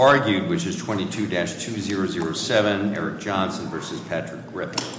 argued, which is 22-2007, Eric Johnson v. Patrick Griffith.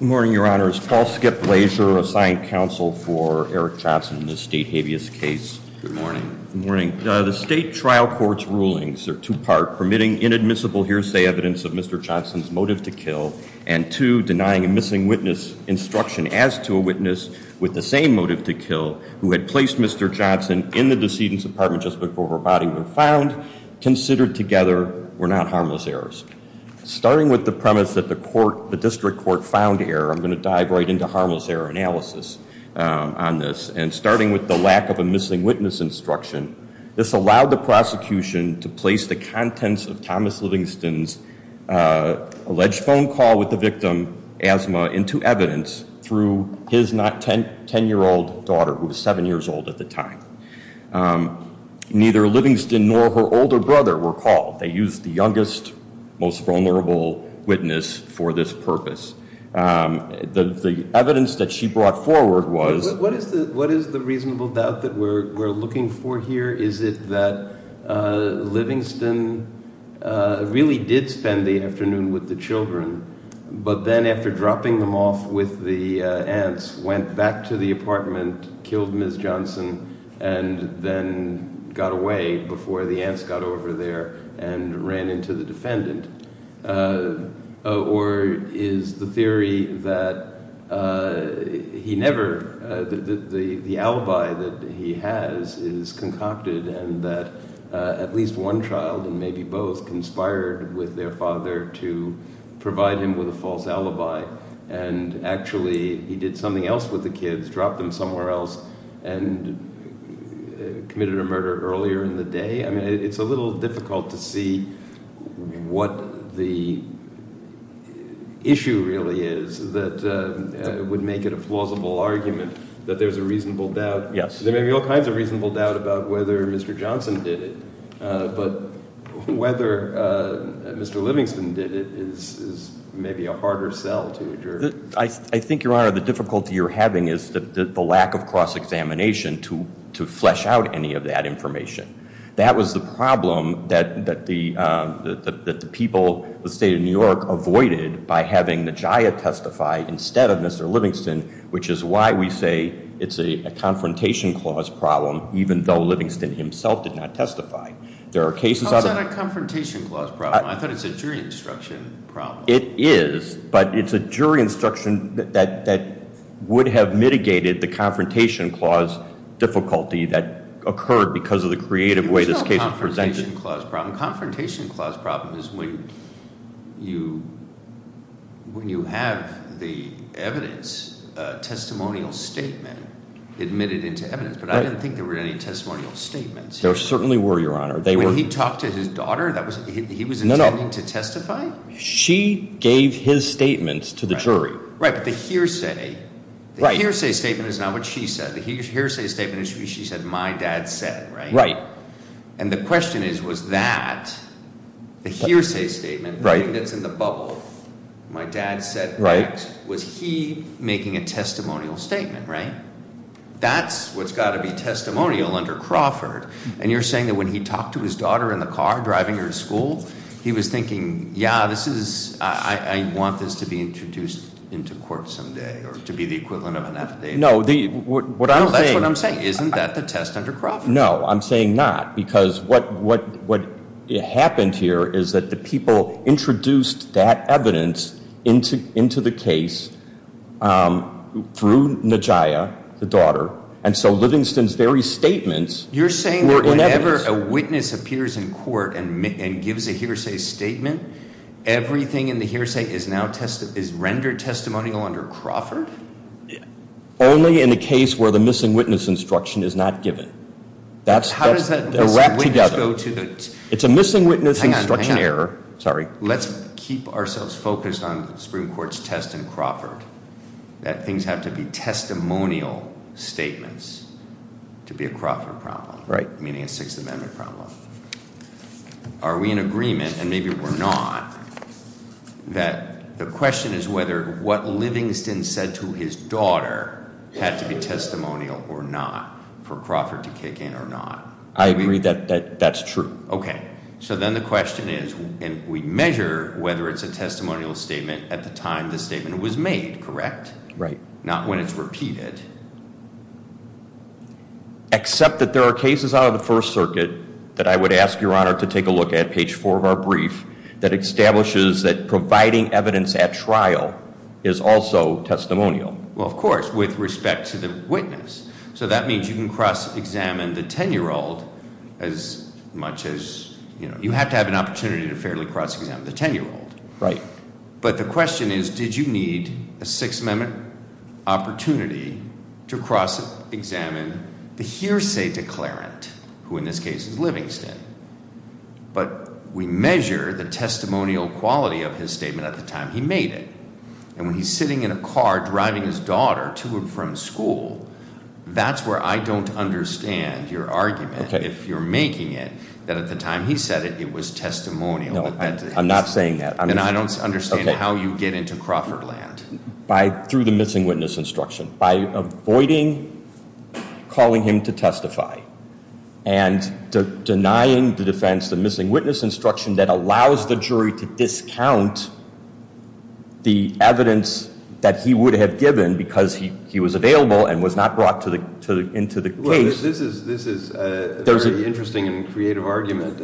Good morning, Your Honor. Is Paul Skip Blaser of Science Council for Eric Johnson in this state habeas case? Good morning. The state trial court's rulings are two-part, permitting inadmissible hearsay evidence of Mr. Johnson's motive to kill, and two, denying a missing witness instruction as to a witness with the same motive to kill who had placed Mr. Johnson in the decedent's apartment just before her body was found, considered together were not harmless errors. Starting with the premise that the district court found error, I'm going to dive right into harmless error analysis on this. And starting with the lack of a missing witness instruction, this allowed the prosecution to place the contents of Thomas Livingston's alleged phone call with the victim, asthma, into evidence through his not-10-year-old daughter, who was 7 years old at the time. Neither Livingston nor her older brother were called. They used the youngest, most vulnerable witness for this purpose. The evidence that she brought forward was- What is the reasonable doubt that we're looking for here? Is it that Livingston really did spend the afternoon with the children, but then after dropping them off with the aunts, went back to the apartment, killed Ms. Johnson, and then got away before the aunts got over there and ran into the defendant? Or is the theory that he never- the alibi that he has is concocted and that at least one child, and maybe both, conspired with their father to provide him with a false alibi, and actually he did something else with the kids, dropped them somewhere else, and committed a murder earlier in the day? I mean, it's a little difficult to see what the issue really is that would make it a plausible argument that there's a reasonable doubt. There may be all kinds of reasonable doubt about whether Mr. Johnson did it, but whether Mr. Livingston did it is maybe a harder sell to adjourn. I think, Your Honor, the difficulty you're having is the lack of cross-examination to flesh out any of that information. That was the problem that the people, the state of New York, avoided by having Najiah testify instead of Mr. Livingston, which is why we say it's a confrontation clause problem, even though Livingston himself did not testify. There are cases- It's not a confrontation clause problem, I thought it's a jury instruction problem. It is, but it's a jury instruction that would have mitigated the confrontation clause difficulty that occurred because of the creative way this case was presented. It's not a confrontation clause problem. Confrontation clause problem is when you have the evidence, a testimonial statement admitted into evidence, but I didn't think there were any testimonial statements. There certainly were, Your Honor. They were- When he talked to his daughter, he was intending to testify? She gave his statements to the jury. Right, but the hearsay statement is not what she said. The hearsay statement is what she said my dad said, right? Right. And the question is, was that, the hearsay statement, the thing that's in the bubble, my dad said that, was he making a testimonial statement, right? That's what's got to be testimonial under Crawford. And you're saying that when he talked to his daughter in the car driving her to school, he was thinking, yeah, this is, I want this to be introduced into court someday, or to be the equivalent of an affidavit. No, what I'm saying- That's what I'm saying. Isn't that the test under Crawford? No, I'm saying not, because what happened here is that the people introduced that evidence into the case through Najiah, the daughter. And so Livingston's very statements were in evidence. You're saying that whenever a witness appears in court and gives a hearsay statement, everything in the hearsay is rendered testimonial under Crawford? Only in a case where the missing witness instruction is not given. That's- How does that- They're wrapped together. It's a missing witness instruction error, sorry. Let's keep ourselves focused on the Supreme Court's test in Crawford. That things have to be testimonial statements to be a Crawford problem. Right. Meaning a Sixth Amendment problem. Are we in agreement, and maybe we're not, that the question is whether what Livingston said to his daughter had to be testimonial or not for Crawford to kick in or not. I agree that that's true. Okay. So then the question is, and we measure whether it's a testimonial statement at the time the statement was made, correct? Right. Not when it's repeated. Except that there are cases out of the First Circuit that I would ask your honor to take a look at, page four of our brief, that establishes that providing evidence at trial is also testimonial. Well, of course, with respect to the witness. So that means you can cross-examine the ten-year-old as much as, you have to have an opportunity to fairly cross-examine the ten-year-old. Right. But the question is, did you need a Sixth Amendment opportunity to cross-examine the hearsay declarant, who in this case is Livingston? But we measure the testimonial quality of his statement at the time he made it. And when he's sitting in a car driving his daughter to and from school, that's where I don't understand your argument. Okay. If you're making it, that at the time he said it, it was testimonial. No, I'm not saying that. And I don't understand how you get into Crawford land. By, through the missing witness instruction. By avoiding calling him to testify. And denying the defense, the missing witness instruction that allows the jury to discount the evidence that he would have given because he was available and was not brought into the case. This is a very interesting and creative argument.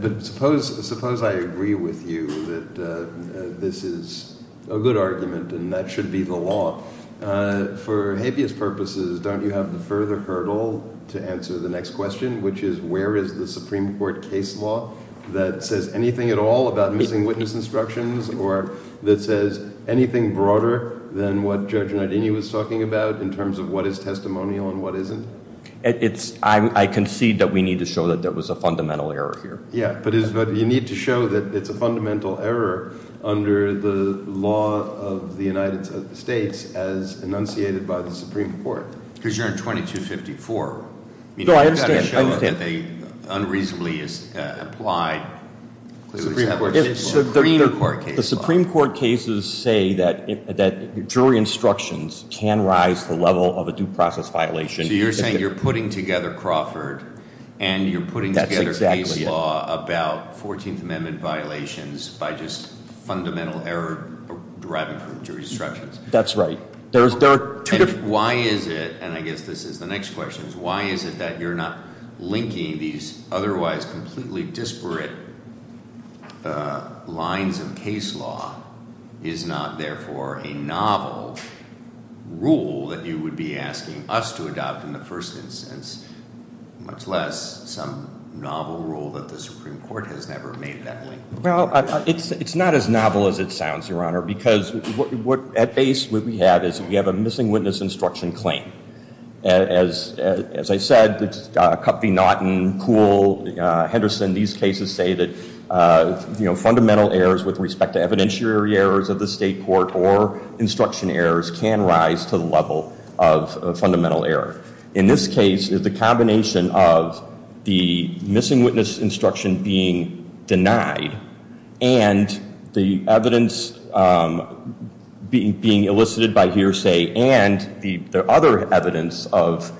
But suppose I agree with you that this is a good argument and that should be the law. For habeas purposes, don't you have the further hurdle to answer the next question, which is where is the Supreme Court case law that says anything at all about missing witness instructions? Or that says anything broader than what Judge Nardini was talking about in terms of what is testimonial and what isn't? It's, I concede that we need to show that there was a fundamental error here. Yeah, but you need to show that it's a fundamental error under the law of the United States as enunciated by the Supreme Court. Because you're in 2254. No, I understand. You've got to show that they unreasonably applied. The Supreme Court cases say that jury instructions can rise to the level of a due process violation. So you're saying you're putting together Crawford. And you're putting together case law about 14th Amendment violations by just fundamental error deriving from jury instructions. That's right. There's two different- Why is it, and I guess this is the next question, is why is it that you're not linking these otherwise completely disparate lines of case law is not therefore a novel rule that you would be asking us to adopt in the first instance? Much less some novel rule that the Supreme Court has never made that link. Well, it's not as novel as it sounds, Your Honor, because at base what we have is we have a missing witness instruction claim. As I said, Cup v Naughton, Kuhl, Henderson, these cases say that fundamental errors with respect to evidentiary errors of the state court or instruction errors can rise to the level of a fundamental error. In this case, it's a combination of the missing witness instruction being denied and the evidence being elicited by hearsay and the other evidence of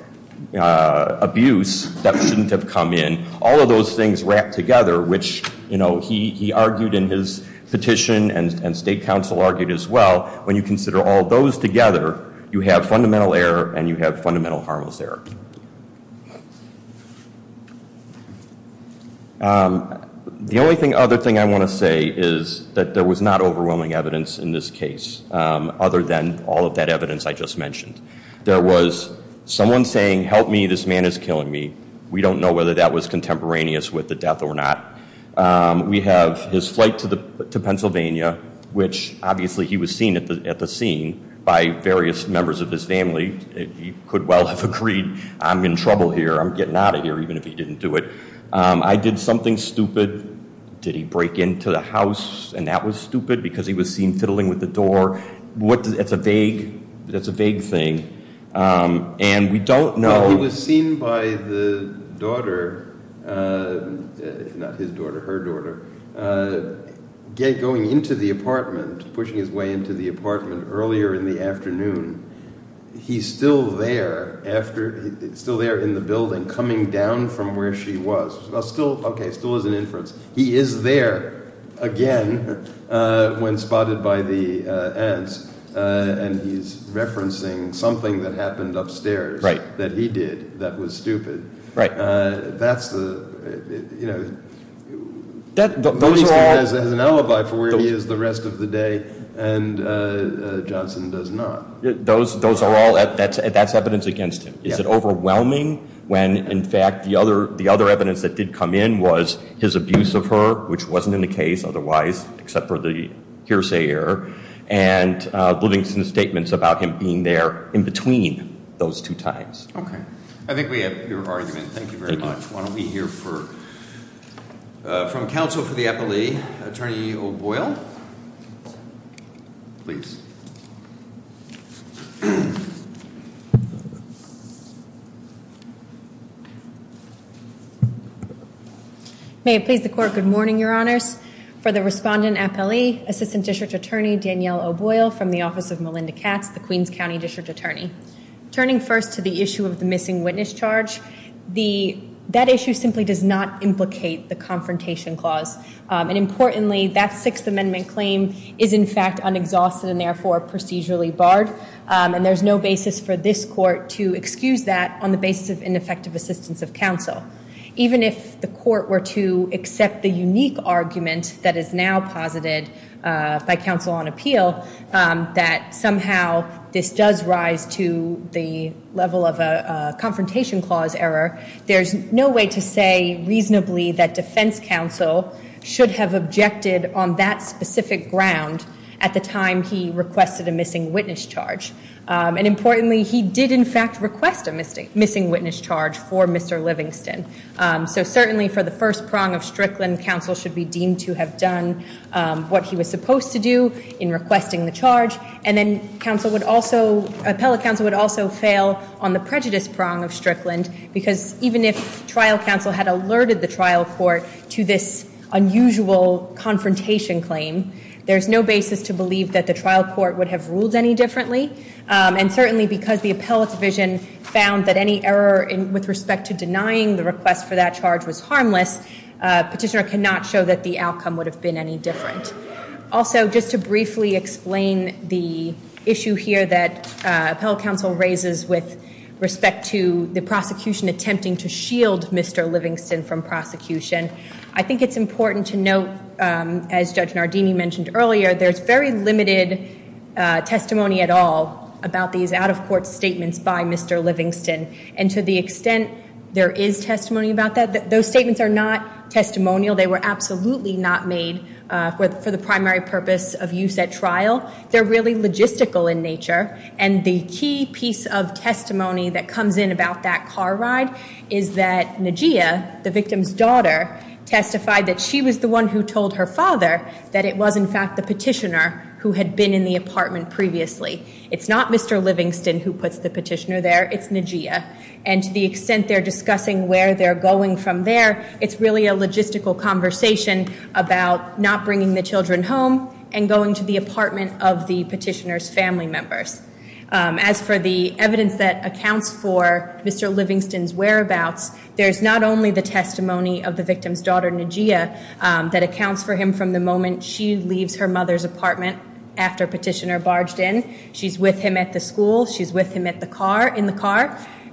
abuse that shouldn't have come in. All of those things wrapped together, which he argued in his petition and the state council argued as well, when you consider all those together, you have fundamental error and you have fundamental harmless error. The only other thing I want to say is that there was not overwhelming evidence in this case, other than all of that evidence I just mentioned. There was someone saying, help me, this man is killing me. We don't know whether that was contemporaneous with the death or not. We have his flight to Pennsylvania, which obviously he was seen at the scene by various members of his family. He could well have agreed, I'm in trouble here, I'm getting out of here, even if he didn't do it. I did something stupid. Did he break into the house and that was stupid because he was seen fiddling with the door? That's a vague thing, and we don't know- He was seen by the daughter, not his daughter, her daughter, going into the apartment, pushing his way into the apartment earlier in the afternoon. He's still there in the building, coming down from where she was. Still, okay, still as an inference. He is there again when spotted by the aunts and he's referencing something that happened upstairs that he did that was stupid. That's the, you know, he has an alibi for where he is the rest of the day and Johnson does not. Those are all, that's evidence against him. Is it overwhelming when, in fact, the other evidence that did come in was his abuse of her, which wasn't in the case otherwise, except for the hearsay error. And Livingston's statements about him being there in between those two times. Okay. I think we have your argument. Thank you very much. Why don't we hear from counsel for the appellee, Attorney O'Boyle, please. May it please the court, good morning, your honors. For the respondent appellee, Assistant District Attorney Danielle O'Boyle from the office of Melinda Katz, the Queens County District Attorney. Turning first to the issue of the missing witness charge, that issue simply does not implicate the confrontation clause. And importantly, that Sixth Amendment claim is in fact unexhausted and therefore procedurally barred. And there's no basis for this court to excuse that on the basis of ineffective assistance of counsel. Even if the court were to accept the unique argument that is now posited by counsel on appeal, that somehow this does rise to the level of a confrontation clause error. There's no way to say reasonably that defense counsel should have objected on that specific ground at the time he requested a missing witness charge. And importantly, he did in fact request a missing witness charge for Mr. Livingston. So certainly for the first prong of Strickland, counsel should be deemed to have done what he was supposed to do in requesting the charge. And then appellate counsel would also fail on the prejudice prong of Strickland. Because even if trial counsel had alerted the trial court to this unusual confrontation claim, there's no basis to believe that the trial court would have ruled any differently. And certainly because the appellate division found that any error with respect to denying the request for that charge was harmless, petitioner cannot show that the outcome would have been any different. Also, just to briefly explain the issue here that appellate counsel raises with respect to the prosecution attempting to shield Mr. Livingston from prosecution. I think it's important to note, as Judge Nardini mentioned earlier, there's very limited testimony at all about these out of court statements by Mr. Livingston. And to the extent there is testimony about that, those statements are not testimonial. They were absolutely not made for the primary purpose of use at trial. They're really logistical in nature. And the key piece of testimony that comes in about that car ride is that Najia, the victim's daughter, testified that she was the one who told her father that it was in fact the petitioner who had been in the apartment previously. It's not Mr. Livingston who puts the petitioner there, it's Najia. And to the extent they're discussing where they're going from there, it's really a logistical conversation about not bringing the children home and going to the apartment of the petitioner's family members. As for the evidence that accounts for Mr. Livingston's whereabouts, there's not only the testimony of the victim's daughter, Najia, that accounts for him from the moment she leaves her mother's apartment after petitioner barged in. She's with him at the school, she's with him in the car.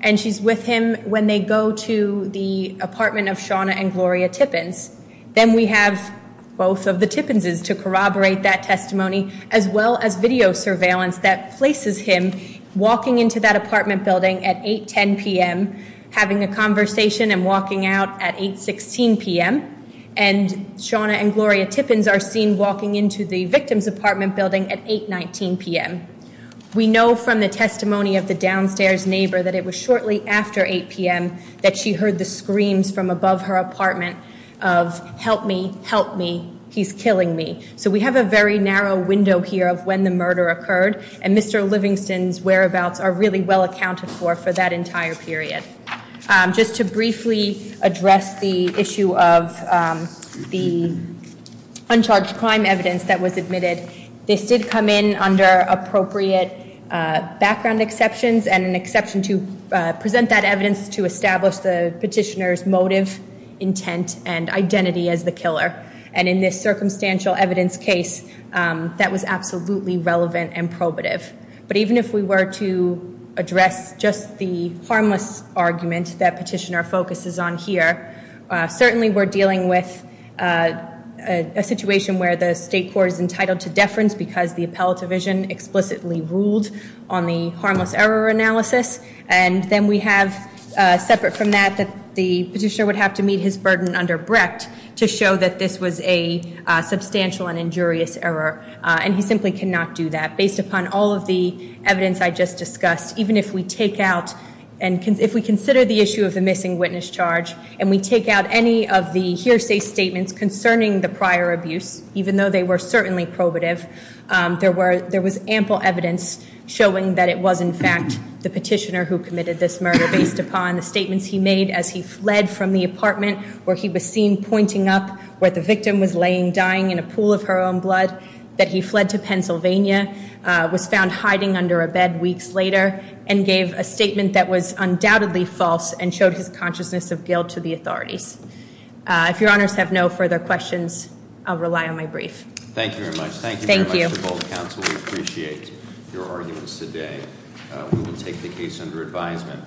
And she's with him when they go to the apartment of Shawna and Gloria Tippins. Then we have both of the Tippins' to corroborate that testimony, as well as video surveillance that places him walking into that apartment building at 8, 10 PM, having a conversation and walking out at 8, 16 PM. And Shawna and Gloria Tippins are seen walking into the victim's apartment building at 8, 19 PM. We know from the testimony of the downstairs neighbor that it was shortly after 8 PM that she heard the screams from above her apartment of, help me, help me, he's killing me. So we have a very narrow window here of when the murder occurred. And Mr. Livingston's whereabouts are really well accounted for for that entire period. Just to briefly address the issue of the uncharged crime evidence that was admitted. This did come in under appropriate background exceptions and an exception to present that evidence to establish the petitioner's motive, intent, and identity as the killer. And in this circumstantial evidence case, that was absolutely relevant and probative. But even if we were to address just the harmless argument that petitioner focuses on here, certainly we're dealing with a situation where the state court is entitled to deference because the appellate division explicitly ruled on the harmless error analysis. And then we have, separate from that, that the petitioner would have to meet his burden under Brecht to show that this was a substantial and injurious error, and he simply cannot do that. Based upon all of the evidence I just discussed, even if we take out, and if we consider the issue of the missing witness charge, and we take out any of the hearsay statements concerning the prior abuse, even though they were certainly probative, there was ample evidence showing that it was in fact the petitioner who committed this murder based upon the statements he made as he fled from the apartment, where he was seen pointing up, where the victim was laying dying in a pool of her own blood, that he fled to Pennsylvania, was found hiding under a bed weeks later, and gave a statement that was undoubtedly false, and showed his consciousness of guilt to the authorities. If your honors have no further questions, I'll rely on my brief. Thank you very much. Thank you very much for both counsel, we appreciate your arguments today. We will take the case under advisement.